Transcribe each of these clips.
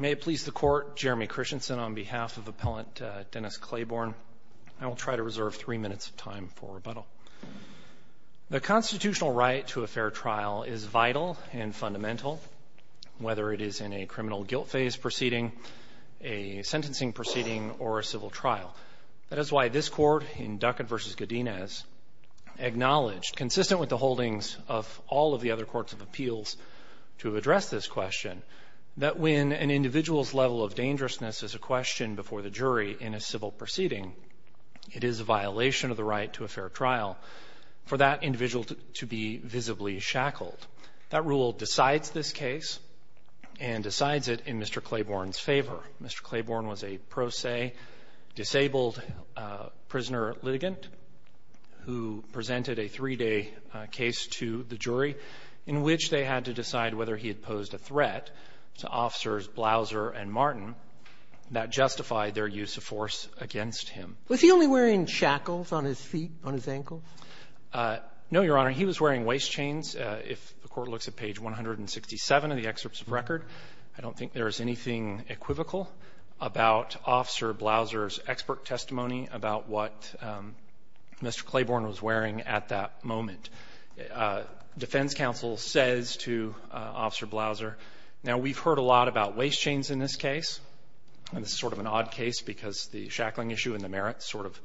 May it please the Court, Jeremy Christensen on behalf of Appellant Dennis Claiborne. I will try to reserve three minutes of time for rebuttal. The constitutional right to a fair trial is vital and fundamental, whether it is in a criminal guilt phase proceeding, a sentencing proceeding, or a civil trial. That is why this Court in Duckett v. Godinez acknowledged, consistent with the holdings of all of the other courts of appeals to address this question, that when an individual's level of dangerousness is a question before the jury in a civil proceeding, it is a violation of the right to a fair trial for that individual to be visibly shackled. That rule decides this case and decides it in Mr. Claiborne's favor. Mr. Claiborne was a pro se disabled prisoner litigant who presented a three-day case to the jury in which they had to decide whether he had posed a threat to officers Blauser and Martin that justified their use of force against him. Was he only wearing shackles on his feet, on his ankles? No, Your Honor. He was wearing waist chains. If the Court looks at page 167 of the excerpts of record, I don't think there is anything equivocal about Officer Blauser's expert testimony about what Mr. Claiborne was wearing at that moment. Defense counsel says to Officer Blauser, now, we've heard a lot about waist chains in this case, and it's sort of an odd case because the shackling issue and the merits sort of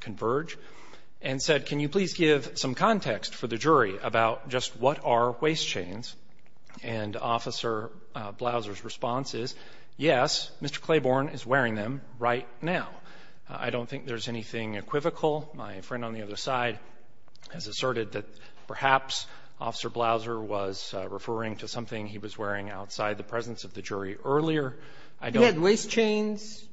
converge, and said, can you please give some context for the jury about just what are waist chains? And Officer Blauser's response is, yes, Mr. Claiborne is wearing them right now. I don't think there's anything equivocal. My friend on the other side has asserted that perhaps Officer Blauser was referring to something he was wearing outside the presence of the jury earlier. He had waist chains,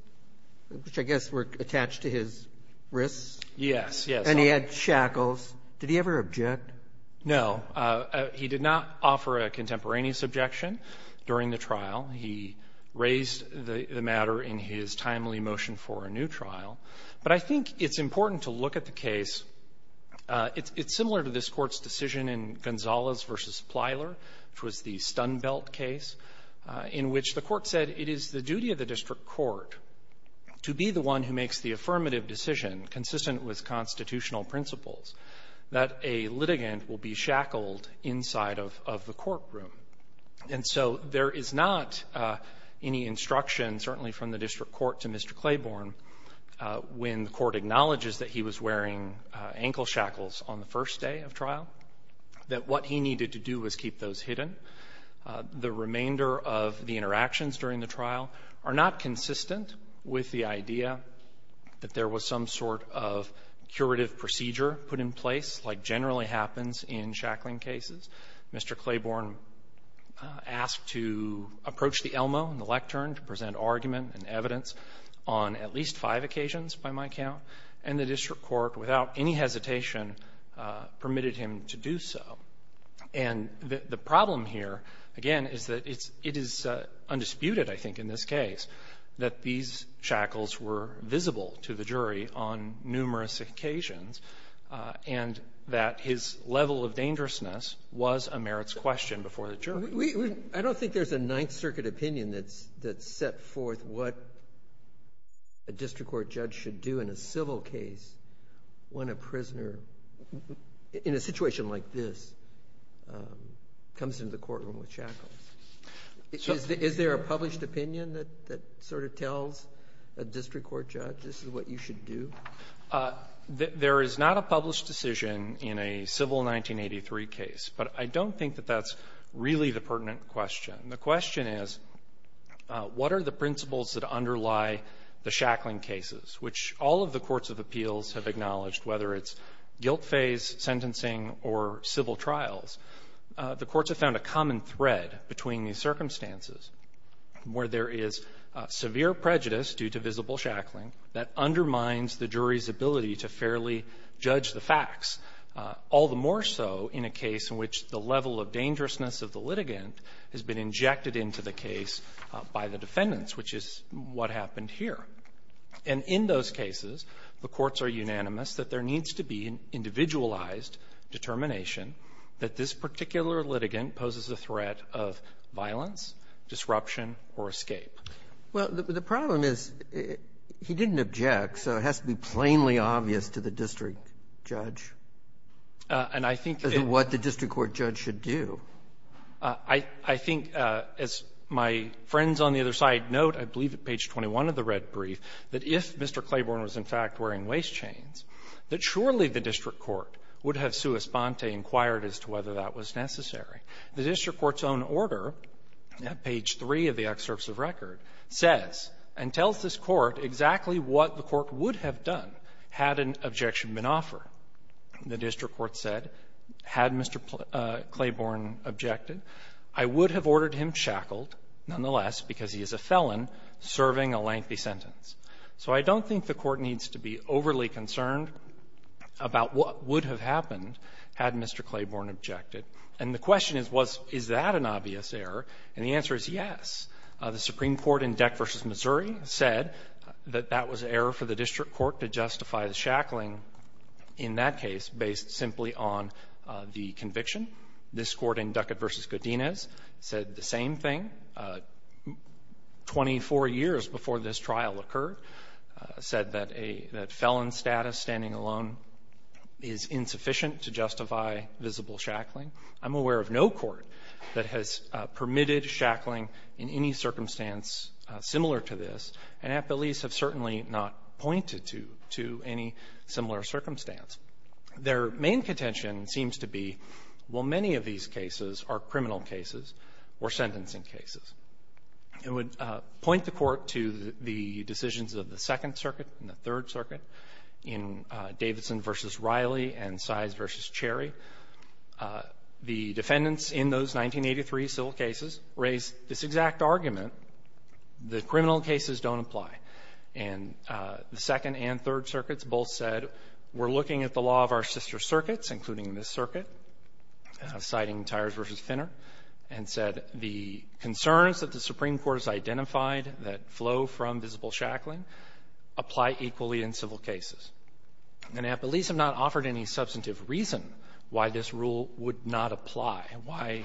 which I guess were attached to his wrists. Yes, yes. And he had shackles. Did he ever object? No. He did not offer a contemporaneous objection during the trial. He raised the matter in his timely motion for a new trial. But I think it's important to look at the case. It's similar to this Court's decision in Gonzalez v. Plyler, which was the Stun Belt case, in which the Court said it is the duty of the district court to be the one who makes the affirmative decision consistent with constitutional principles that a litigant will be shackled inside of the courtroom. And so there is not any instruction, certainly from the district court to Mr. Claiborne, when the court acknowledges that he was wearing ankle shackles on the first day of trial, that what he needed to do was keep those hidden. The remainder of the interactions during the trial are not consistent with the idea that there was some sort of curative procedure put in place, like generally happens in shackling cases. Mr. Claiborne asked to approach the Elmo and the lectern to present argument and evidence on at least five occasions, by my count. And the district court, without any hesitation, permitted him to do so. And the problem here, again, is that it's undisputed, I think, in this case, that these shackles were visible to the jury on numerous occasions and that his level of dangerousness was a merits question before the jury. We don't think there's a Ninth Circuit opinion that's set forth what a district court judge should do in a civil case when a prisoner, in a situation like this, comes into the courtroom with shackles. Is there a published opinion that sort of tells a district court judge, this is what you should do? There is not a published decision in a civil 1983 case, but I don't think that that's really the pertinent question. The question is, what are the principles that underlie the shackling cases, which all of the courts of appeals have acknowledged, whether it's guilt phase sentencing or civil trials. The courts have found a common thread between these circumstances where there is severe prejudice due to visible shackling that undermines the jury's ability to fairly judge the facts, all the more so in a case in which the level of dangerousness of the litigant has been injected into the case by the defendants, which is what happened here. And in those cases, the courts are unanimous that there needs to be an individualized determination that this particular litigant poses a threat of violence, disruption, or escape. Well, the problem is, he didn't object, so it has to be plainly obvious to the district judge as to what the district court judge should do. I think, as my friends on the other side note, I believe at page 21 of the red brief, that if Mr. Claiborne was, in fact, wearing waist chains, that surely the district court would have sua sponte inquired as to whether that was necessary. The district court's own order, at page 3 of the excerpts of record, says and tells this court exactly what the court would have done had an objection been offered. The district court said, had Mr. Claiborne objected, I would have ordered him shackled, nonetheless, because he is a felon serving a lengthy sentence. So I don't think the court needs to be overly concerned about what would have happened had Mr. Claiborne objected. And the question is, was that an obvious error? And the answer is, yes. The Supreme Court in Deck v. Missouri said that that was an error for the district court to justify the shackling in that case based simply on the conviction. This Court in Ducat v. Godinez said the same thing 24 years before this trial occurred, said that a felon status, standing alone, is insufficient to justify visible shackling. I'm aware of no court that has permitted shackling in any circumstance similar to this, and at the least have certainly not pointed to any similar circumstance. Their main contention seems to be, well, many of these cases are criminal cases or sentencing cases. It would point the Court to the decisions of the Second Circuit and the Third Circuit in Davidson v. Riley and Size v. Cherry. The defendants in those 1983 civil cases raised this exact argument, that criminal cases don't apply. And the Second and Third Circuits both said, we're looking at the law of our sister circuits, including this circuit, citing Tyers v. Finner, and said the concerns that the Supreme Court has identified that flow from visible shackling apply equally in civil cases. And at the least have not offered any substantive reason why this rule would not apply, why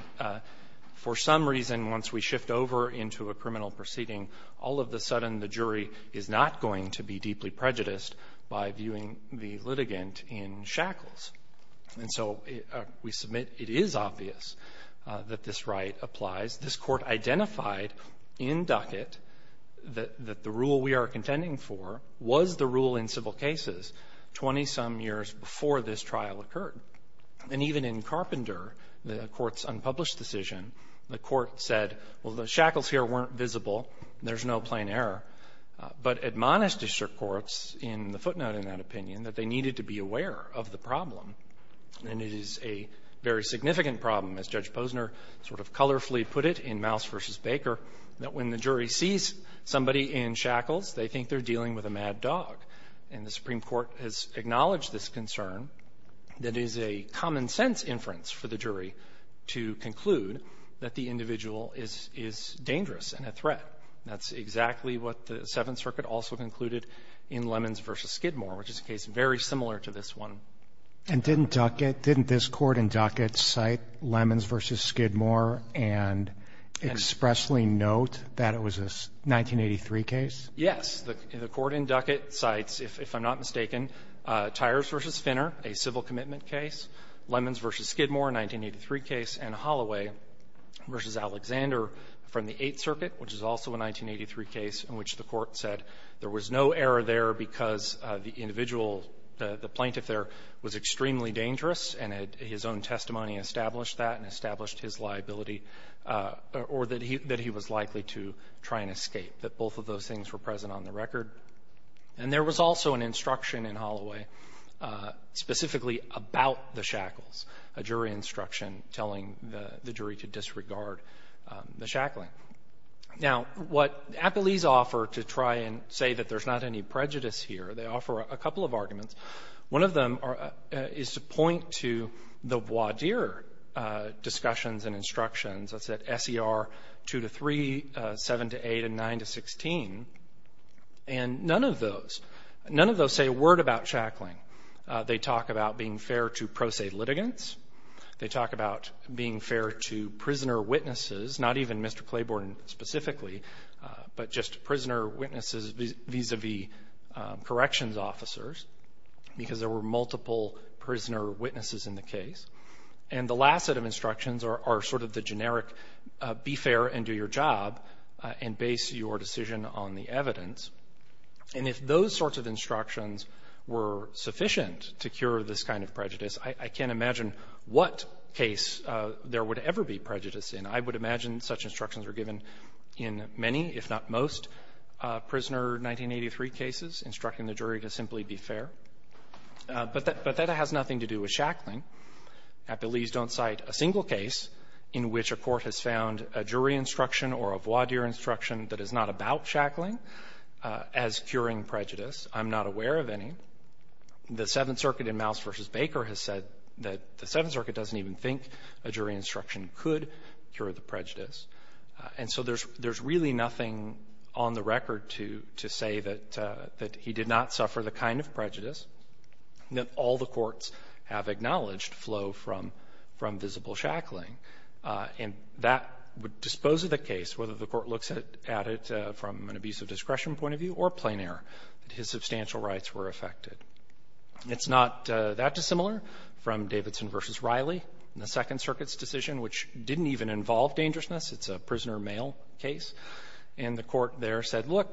for some reason, once we shift over into a criminal proceeding, all of the sudden the jury is not going to be deeply prejudiced by viewing the litigant in shackles. And so we submit it is obvious that this right applies. This Court identified in Ducat that the rule we are contending for was the rule in civil cases 20-some years before this trial occurred. And even in Carpenter, the Court's unpublished decision, the Court said, well, the shackles here weren't visible, there's no plain error, but admonished the courts in the footnote in that opinion that they needed to be aware of the problem. And it is a very significant problem, as Judge Posner sort of colorfully put it in Mouse v. Baker, that when the jury sees somebody in shackles, they think they're dealing with a mad dog. And the Supreme Court has acknowledged this concern that is a common-sense inference for the jury to conclude that the individual is dangerous and a threat. That's exactly what the Seventh Circuit also concluded in Lemons v. Skidmore, which is a case very similar to this one. Roberts. And didn't Ducat, didn't this Court in Ducat cite Lemons v. Skidmore and expressly note that it was a 1983 case? Yes. The Court in Ducat cites, if I'm not mistaken, Tyers v. Finner, a civil commitment case, Lemons v. Skidmore, a 1983 case, and Holloway v. Alexander from the Eighth Circuit, which is also a 1983 case in which the Court said there was no error there because the individual, the plaintiff there was extremely dangerous, and his own testimony established that and established his liability, or that he was likely to try and escape, that both of those things were present on the record. And there was also an instruction in Holloway specifically about the shackles, a jury instruction telling the jury to disregard the shackling. Now, what appellees offer to try and say that there's not any prejudice here, they offer a couple of arguments. One of them is to point to the other discussions and instructions, that's at S.E.R. 2-3, 7-8, and 9-16, and none of those say a word about shackling. They talk about being fair to pro se litigants. They talk about being fair to prisoner witnesses, not even Mr. Claiborne specifically, but just prisoner witnesses vis-a-vis corrections officers, because there were multiple prisoner witnesses in the case. And the last set of instructions are sort of the generic, be fair and do your job, and base your decision on the evidence. And if those sorts of instructions were sufficient to cure this kind of prejudice, I can't imagine what case there would ever be prejudice in. I would imagine such instructions were given in many, if not most, prisoner 1983 cases, instructing the jury to simply be fair. But that has nothing to do with shackling. I believe don't cite a single case in which a court has found a jury instruction or a voir dire instruction that is not about shackling as curing prejudice. I'm not aware of any. The Seventh Circuit in Mouse v. Baker has said that the Seventh Circuit doesn't even think a jury instruction could cure the prejudice. And so there's really nothing on the record to say that he did not suffer the kind of prejudice that all the courts have acknowledged flow from visible shackling. And that would dispose of the case, whether the court looks at it from an abusive discretion point of view or plain error, that his substantial rights were affected. It's not that dissimilar from Davidson v. Riley in the Second Circuit's decision, which didn't even involve dangerousness. It's a prisoner male case. And the court there said, look,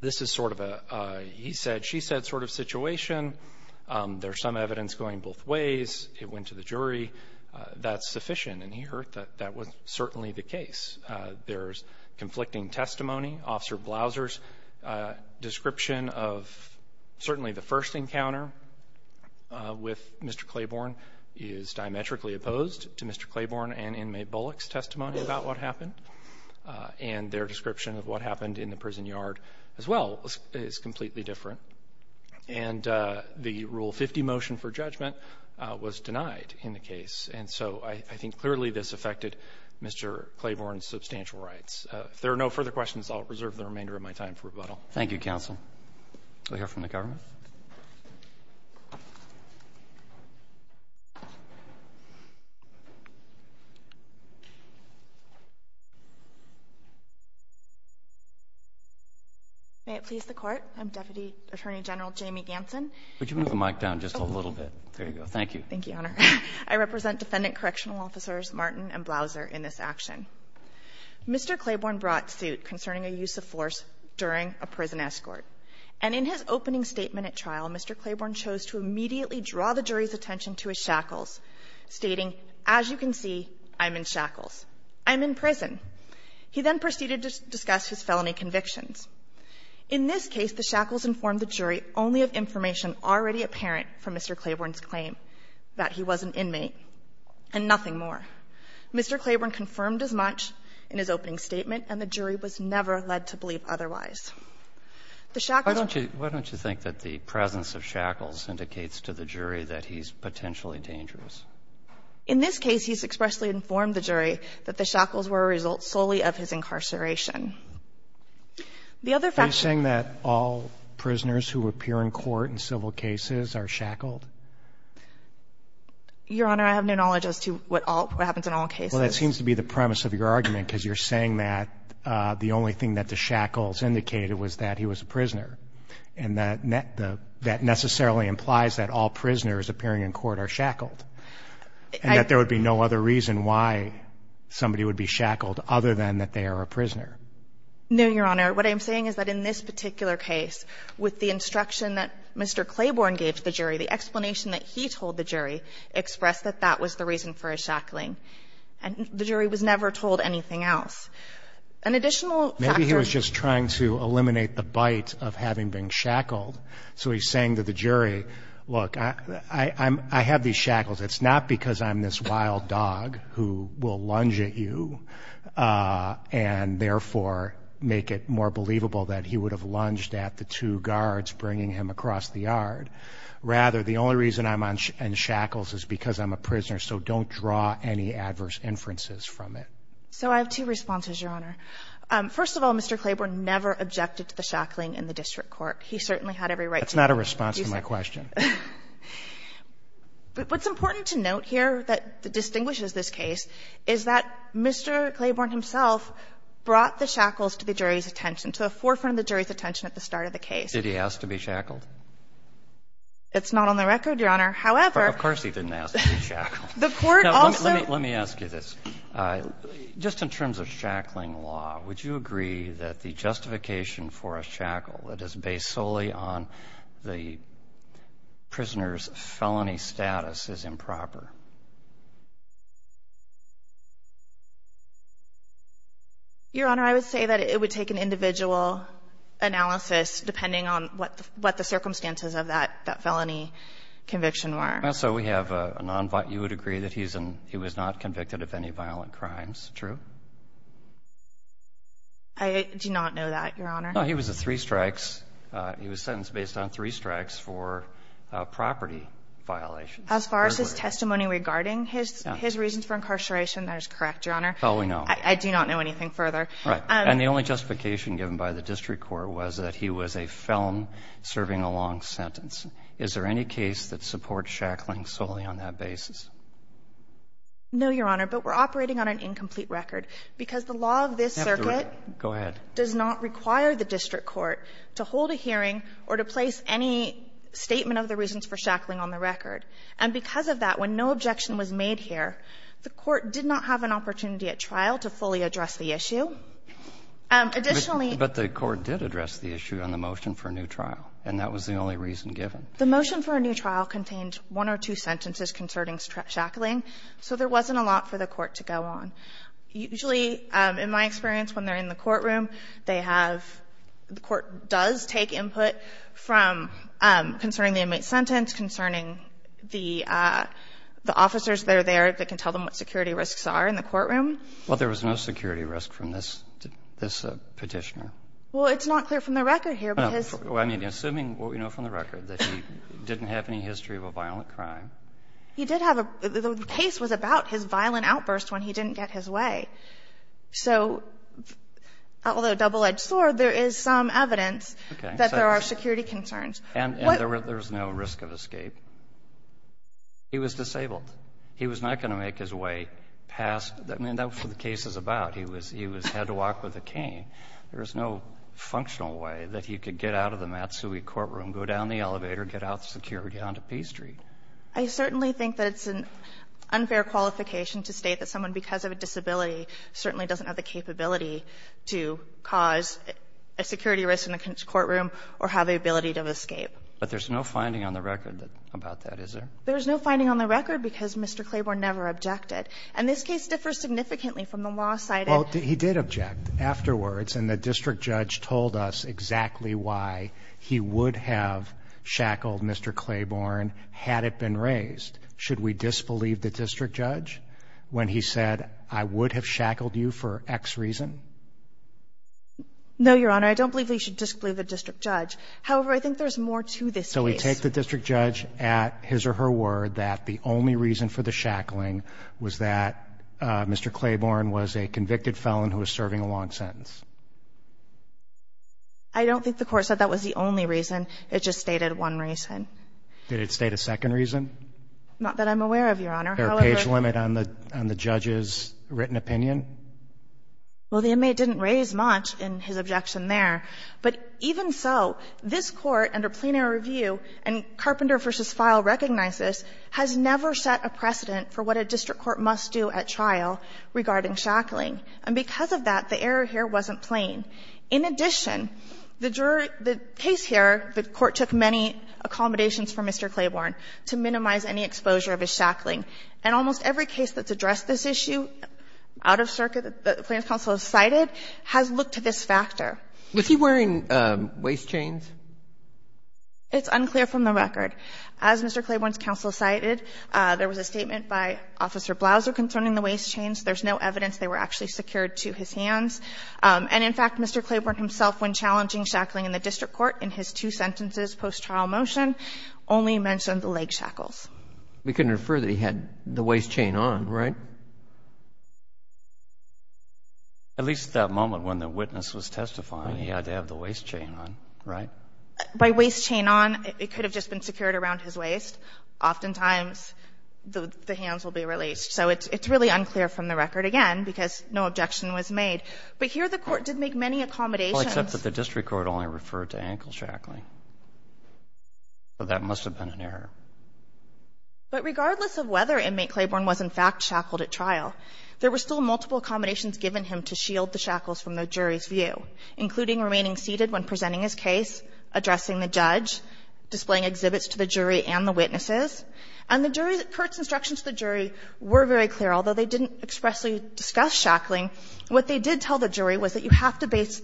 this is sort of a he said, she said sort of situation. There's some evidence going both ways. It went to the jury. That's sufficient. And he heard that that was certainly the case. There's conflicting testimony. Officer Blauser's description of certainly the first encounter with Mr. Claiborne is diametrically opposed to Mr. Claiborne and inmate Bullock's testimony about what happened. And their description of what happened in the prison yard as well is completely different. And the Rule 50 motion for judgment was denied in the case. And so I think clearly this affected Mr. Claiborne's substantial rights. If there are no further questions, I'll reserve the remainder of my time for rebuttal. Thank you, counsel. We'll hear from the government. May it please the Court. I'm Deputy Attorney General Jamie Ganson. Could you move the mic down just a little bit? There you go. Thank you. Thank you, Your Honor. I represent Defendant Correctional Officers Martin and Blauser in this action. Mr. Claiborne brought suit concerning a use of force during a prison escort. And in his opening statement at trial, Mr. Claiborne chose to immediately draw the jury's attention to his shackles, stating, as you can see, I'm in shackles. I'm in prison. He then proceeded to discuss his felony convictions. In this case, the shackles informed the jury only of information already apparent from Mr. Claiborne's claim, that he was an inmate and nothing more. Mr. Claiborne confirmed as much in his opening statement, and the jury was never led to believe otherwise. The shackles... Why don't you think that the presence of shackles indicates to the jury that he's potentially dangerous? In this case, he's expressly informed the jury that the shackles were a result solely of his incarceration. The other fact... Are you saying that all prisoners who appear in court in civil cases are shackled? Your Honor, I have no knowledge as to what happens in all cases. Well, that seems to be the premise of your argument, because you're saying that the only thing that the shackles indicated was that he was a prisoner, and that necessarily implies that all prisoners appearing in court are shackled, and that there would be no other reason why somebody would be shackled other than that they are a prisoner. No, Your Honor. What I'm saying is that in this particular case, with the instruction that Mr. Claiborne gave to the jury, the explanation that he told the jury expressed that that was the reason for his shackling, and the jury was never told anything else. An additional factor... Maybe he was just trying to eliminate the bite of having been shackled. So he's saying to the jury, look, I have these shackles. It's not because I'm this wild dog who will lunge at you and therefore make it more believable that he would have lunged at the two guards bringing him across the yard. Rather, the only reason I'm in shackles is because I'm a prisoner, so don't draw any adverse inferences from it. So I have two responses, Your Honor. First of all, Mr. Claiborne never objected to the shackling in the district court. He certainly had every right to... That's not a response to my question. What's important to note here that distinguishes this case is that Mr. Claiborne himself brought the shackles to the jury's attention, to the forefront of the jury's attention at the start of the case. Did he ask to be shackled? It's not on the record, Your Honor. However... Of course he didn't ask to be shackled. The Court also... Let me ask you this. Just in terms of shackling law, would you agree that the justification for a shackle that is based solely on the prisoner's felony status is improper? Your Honor, I would say that it would take an individual analysis depending on what the circumstances of that felony conviction were. So you would agree that he was not convicted of any violent crimes, true? I do not know that, Your Honor. No, he was sentenced based on three strikes for property violations. As far as his testimony regarding his reasons for incarceration, that is correct, Your Honor. Oh, we know. I do not know anything further. Your Honor, we are operating on an incomplete record because the law of this circuit... Go ahead. ...does not require the district court to hold a hearing or to place any statement of the reasons for shackling on the record. And because of that, when no objection was made here, the court did not have an opportunity at trial to fully address the issue. Additionally... But the court did address the issue on the motion for a new trial. And that was the only reason given. The motion for a new trial contained one or two sentences concerning shackling, so there wasn't a lot for the court to go on. Usually, in my experience, when they're in the courtroom, they have the court does take input from concerning the inmate's sentence, concerning the officers that are there that can tell them what security risks are in the courtroom. Well, there was no security risk from this petitioner. Well, it's not clear from the record here because... Well, I mean, assuming from the record that he didn't have any history of a violent crime... He did have a... The case was about his violent outburst when he didn't get his way. So although double-edged sword, there is some evidence that there are security concerns. And there was no risk of escape. He was disabled. He was not going to make his way past... I mean, that's what the case is about. He had to walk with a cane. There was no functional way that he could get out of the Matsui courtroom, go down the elevator, get out of security onto P Street. I certainly think that it's an unfair qualification to state that someone, because of a disability, certainly doesn't have the capability to cause a security risk in a courtroom or have the ability to escape. But there's no finding on the record about that, is there? There's no finding on the record because Mr. Claiborne never objected. And this case differs significantly from the law cited... Well, he did object afterwards. And the district judge told us exactly why he would have shackled Mr. Claiborne had it been raised. Should we disbelieve the district judge when he said, I would have shackled you for X reason? No, Your Honor. I don't believe that you should disbelieve the district judge. However, I think there's more to this case. So we take the district judge at his or her word that the only reason for the I don't think the court said that was the only reason. It just stated one reason. Did it state a second reason? Not that I'm aware of, Your Honor. There a page limit on the judge's written opinion? Well, the inmate didn't raise much in his objection there. But even so, this Court, under plenary review, and Carpenter v. Feil recognizes, has never set a precedent for what a district court must do at And because of that, the error here wasn't plain. In addition, the case here, the court took many accommodations from Mr. Claiborne to minimize any exposure of his shackling. And almost every case that's addressed this issue out of circuit that the plaintiff's counsel has cited has looked to this factor. Was he wearing waist chains? It's unclear from the record. As Mr. Claiborne's counsel cited, there was a statement by Officer Blouser concerning the waist chains. There's no evidence they were actually secured to his hands. And in fact, Mr. Claiborne himself, when challenging shackling in the district court in his two sentences post-trial motion, only mentioned the leg shackles. We can infer that he had the waist chain on, right? At least at that moment when the witness was testifying, he had to have the waist chain on, right? By waist chain on, it could have just been secured around his waist. Oftentimes, the hands will be released. So it's really unclear from the record, again, because no objection was made. But here the Court did make many accommodations. Well, except that the district court only referred to ankle shackling. So that must have been an error. But regardless of whether inmate Claiborne was in fact shackled at trial, there were still multiple accommodations given him to shield the shackles from the jury's view, including remaining seated when presenting his case, addressing the judge, displaying exhibits to the jury and the witnesses. And the jury's – Curt's instructions to the jury were very clear. Although they didn't expressly discuss shackling, what they did tell the jury was that you have to base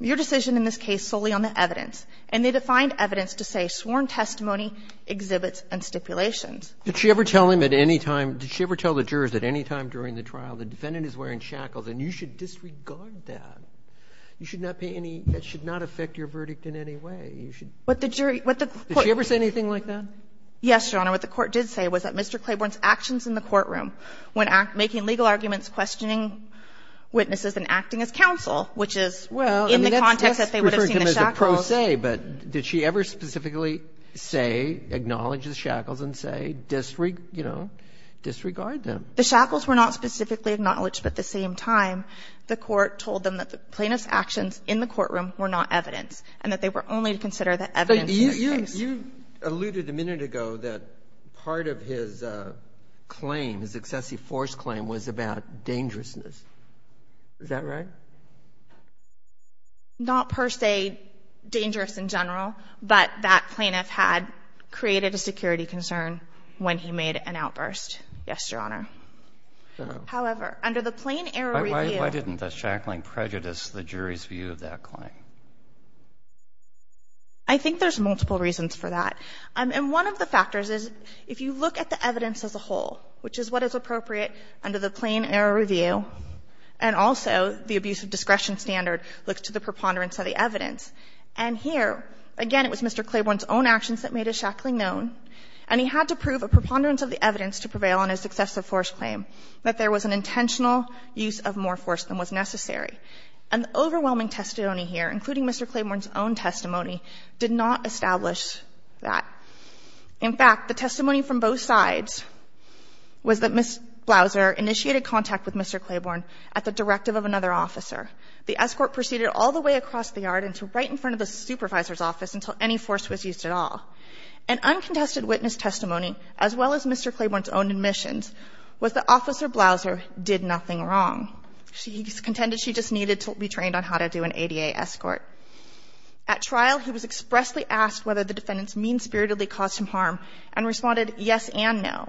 your decision in this case solely on the evidence. And they defined evidence to say sworn testimony, exhibits and stipulations. Did she ever tell him at any time – did she ever tell the jurors at any time during the trial, the defendant is wearing shackles and you should disregard that? You should not pay any – that should not affect your verdict in any way. You should – But the jury – but the Court – Did she ever say anything like that? Yes, Your Honor. What the Court did say was that Mr. Claiborne's actions in the courtroom when making legal arguments, questioning witnesses and acting as counsel, which is in the context that they would have seen the shackles – Well, that's referred to him as a pro se, but did she ever specifically say, acknowledge the shackles and say, disregard them? The shackles were not specifically acknowledged, but at the same time, the Court told them that the plaintiff's actions in the courtroom were not evidence and that they were only to consider the evidence in the case. You – you alluded a minute ago that part of his claim, his excessive force claim, was about dangerousness. Is that right? Not per se dangerous in general, but that plaintiff had created a security concern when he made an outburst. Yes, Your Honor. So – However, under the plain error review – Why – why didn't the shackling prejudice the jury's view of that claim? I think there's multiple reasons for that. And one of the factors is, if you look at the evidence as a whole, which is what is appropriate under the plain error review, and also the abuse of discretion standard looks to the preponderance of the evidence. And here, again, it was Mr. Claiborne's own actions that made his shackling known, and he had to prove a preponderance of the evidence to prevail on his excessive force claim, that there was an intentional use of more force than was necessary. And the overwhelming testimony here, including Mr. Claiborne's own testimony, did not establish that. In fact, the testimony from both sides was that Ms. Blouser initiated contact with Mr. Claiborne at the directive of another officer. The escort proceeded all the way across the yard and to right in front of the supervisor's office until any force was used at all. An uncontested witness testimony, as well as Mr. Claiborne's own admissions, was that Officer Blouser did nothing wrong. She contended she just needed to be trained on how to do an ADA escort. At trial, he was expressly asked whether the defendant's mean-spiritedly caused him harm, and responded yes and no.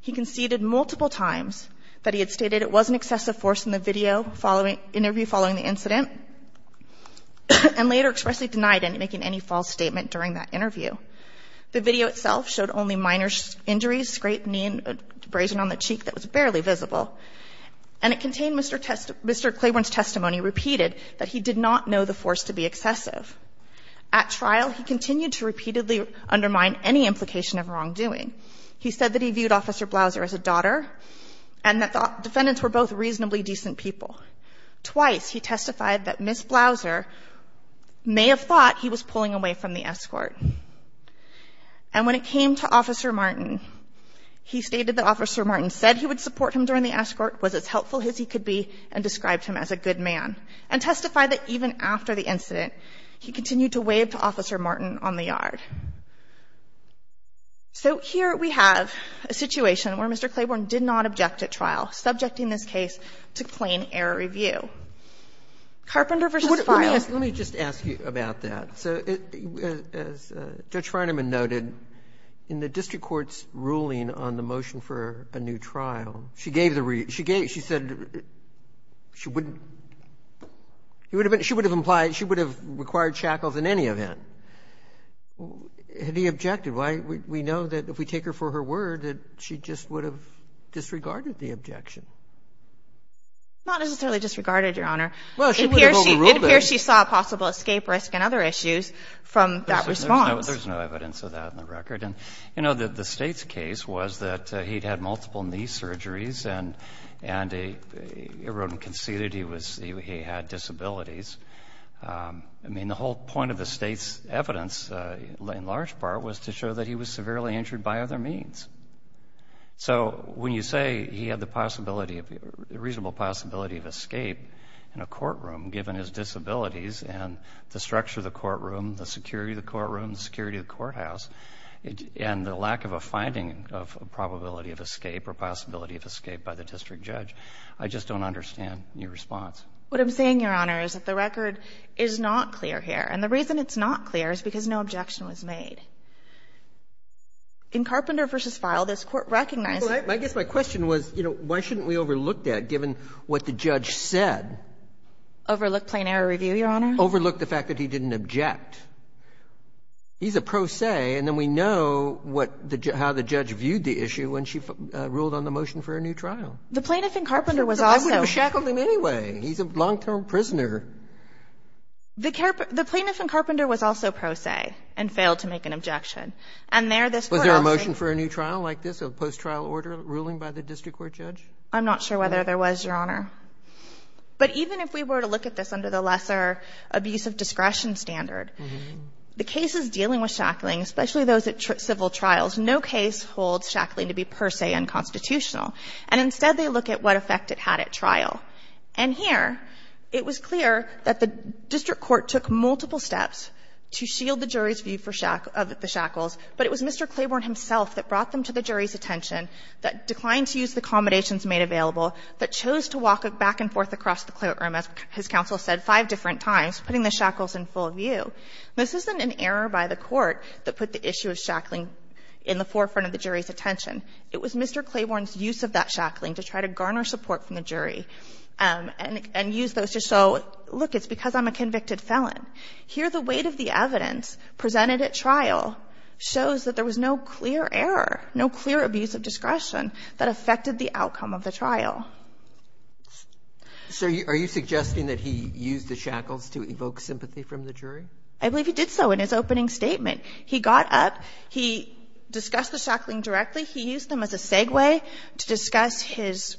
He conceded multiple times that he had stated it was an excessive force in the video interview following the incident, and later expressly denied making any false statement during that interview. The video itself showed only minor injuries, scraped knee and abrasion on the cheek that was barely visible. And it contained Mr. Claiborne's testimony repeated that he did not know the force to be excessive. At trial, he continued to repeatedly undermine any implication of wrongdoing. He said that he viewed Officer Blouser as a daughter, and that the defendants were both reasonably decent people. Twice, he testified that Ms. Blouser may have thought he was pulling away from the escort. And when it came to Officer Martin, he stated that Officer Martin said he would support him during the escort, was as helpful as he could be, and described him as a good man. And testified that even after the incident, he continued to wave to Officer Martin on the yard. So here we have a situation where Mr. Claiborne did not object at trial, subjecting this case to plain error review. Carpenter v. Files. Let me just ask you about that. So as Judge Feinemann noted, in the district court's ruling on the motion for a new trial, she said she would have required shackles in any event. Had he objected? We know that if we take her for her word, that she just would have disregarded the objection. Not necessarily disregarded, Your Honor. Well, she would have overruled it. It appears she saw a possible escape risk and other issues from that response. There's no evidence of that on the record. And, you know, the State's case was that he'd had multiple knee surgeries and everyone conceded he had disabilities. I mean, the whole point of the State's evidence, in large part, was to show that he was severely injured by other means. So when you say he had the possibility of the reasonable possibility of escape in a courtroom given his disabilities and the structure of the courtroom, the security of the courtroom, the security of the courthouse, and the lack of a finding of a probability of escape or possibility of escape by the district judge, I just don't understand your response. What I'm saying, Your Honor, is that the record is not clear here. And the reason it's not clear is because no objection was made. In Carpenter v. Fyle, this Court recognized that. Well, I guess my question was, you know, why shouldn't we overlook that given what the judge said? Overlook plain error review, Your Honor? Overlook the fact that he didn't object. He's a pro se, and then we know what the judge, how the judge viewed the issue when she ruled on the motion for a new trial. The plaintiff in Carpenter was also. I wouldn't have shackled him anyway. He's a long-term prisoner. The plaintiff in Carpenter was also pro se and failed to make an objection. And there, this Court also. Was there a motion for a new trial like this, a post-trial order ruling by the district court judge? I'm not sure whether there was, Your Honor. But even if we were to look at this under the lesser abuse of discretion standard, the cases dealing with shackling, especially those at civil trials, no case holds shackling to be per se unconstitutional. And instead, they look at what effect it had at trial. And here, it was clear that the district court took multiple steps to shield the jury's view of the shackles. But it was Mr. Claiborne himself that brought them to the jury's attention, that declined to use the accommodations made available, that chose to walk back and forth across the courtroom, as his counsel said five different times, putting the shackles in full view. This isn't an error by the Court that put the issue of shackling in the forefront of the jury's attention. It was Mr. Claiborne's use of that shackling to try to garner support from the jury and use those to show, look, it's because I'm a convicted felon. Here, the weight of the evidence presented at trial shows that there was no clear error, no clear abuse of discretion that affected the outcome of the trial. Roberts. So are you suggesting that he used the shackles to evoke sympathy from the jury? I believe he did so in his opening statement. He got up. He discussed the shackling directly. He used them as a segue to discuss his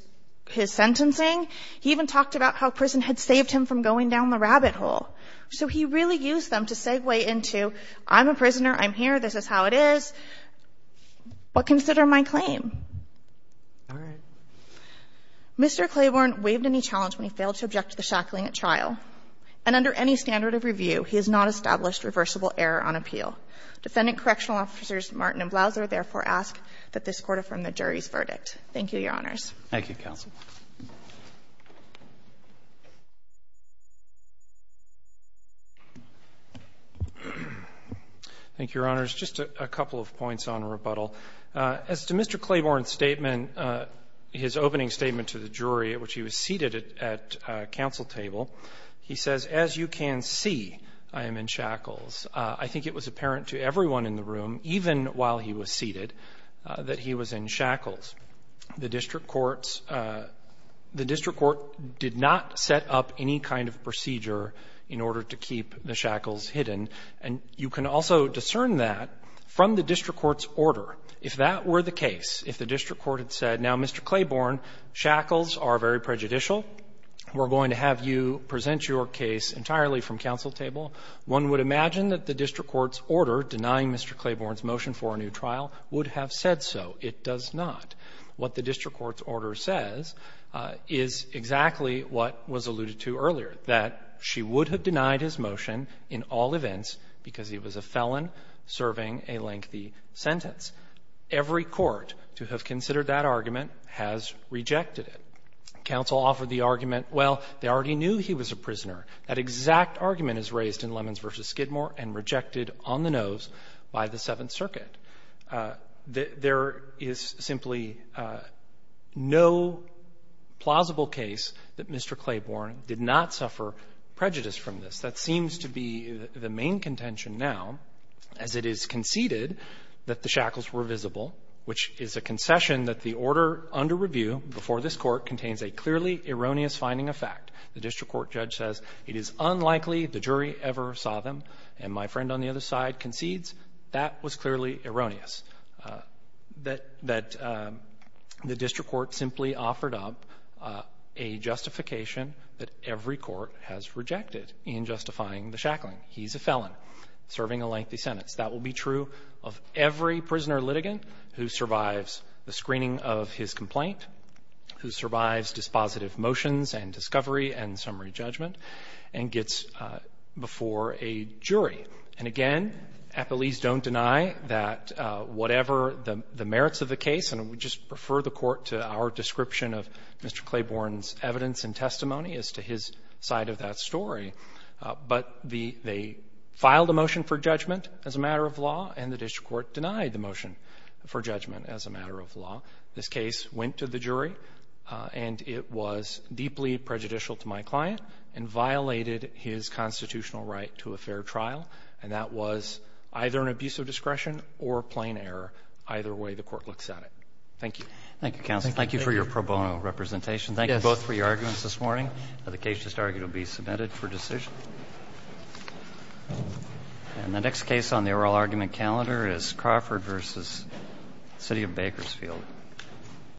sentencing. He even talked about how prison had saved him from going down the rabbit hole. So he really used them to segue into, I'm a prisoner. I'm here. This is how it is. But consider my claim. All right. Mr. Claiborne waived any challenge when he failed to object to the shackling at trial. And under any standard of review, he has not established reversible error on appeal. Defendant Correctional Officers Martin and Blouser therefore ask that this court affirm the jury's verdict. Thank you, Your Honors. Thank you, counsel. Thank you, Your Honors. Just a couple of points on rebuttal. As to Mr. Claiborne's statement, his opening statement to the jury at which he was seated at counsel table, he says, as you can see, I am in shackles. I think it was apparent to everyone in the room, even while he was seated, that he was in shackles. The district court's — the district court did not set up any kind of procedure in order to keep the shackles hidden. And you can also discern that from the district court's order. If that were the case, if the district court had said, now, Mr. Claiborne, shackles are very prejudicial, we're going to have you present your case entirely from counsel table, one would imagine that the district court's order denying Mr. Claiborne's motion for a new trial would have said so. It does not. What the district court's order says is exactly what was alluded to earlier, that she would have denied his motion in all events because he was a felon serving a lengthy sentence. Every court to have considered that argument has rejected it. Counsel offered the argument, well, they already knew he was a prisoner. That exact argument is raised in Lemons v. Skidmore and rejected on the nose by the district court in the Seventh Circuit. There is simply no plausible case that Mr. Claiborne did not suffer prejudice from this. That seems to be the main contention now, as it is conceded that the shackles were visible, which is a concession that the order under review before this Court contains a clearly erroneous finding of fact. The district court judge says it is unlikely the jury ever saw them. And my friend on the other side concedes that was clearly erroneous, that the district court simply offered up a justification that every court has rejected in justifying the shackling. He's a felon serving a lengthy sentence. That will be true of every prisoner litigant who survives the screening of his complaint, who survives dispositive motions and discovery and summary judgment and gets before a jury. And again, appellees don't deny that whatever the merits of the case, and I would just refer the court to our description of Mr. Claiborne's evidence and testimony as to his side of that story. But the they filed a motion for judgment as a matter of law, and the district court denied the motion for judgment as a matter of law. This case went to the jury, and it was deeply prejudicial to my client. And violated his constitutional right to a fair trial. And that was either an abuse of discretion or plain error. Either way, the court looks at it. Thank you. Thank you, counsel. Thank you for your pro bono representation. Thank you both for your arguments this morning. The case just argued will be submitted for decision. And the next case on the oral argument calendar is Crawford v. City of Bakersfield.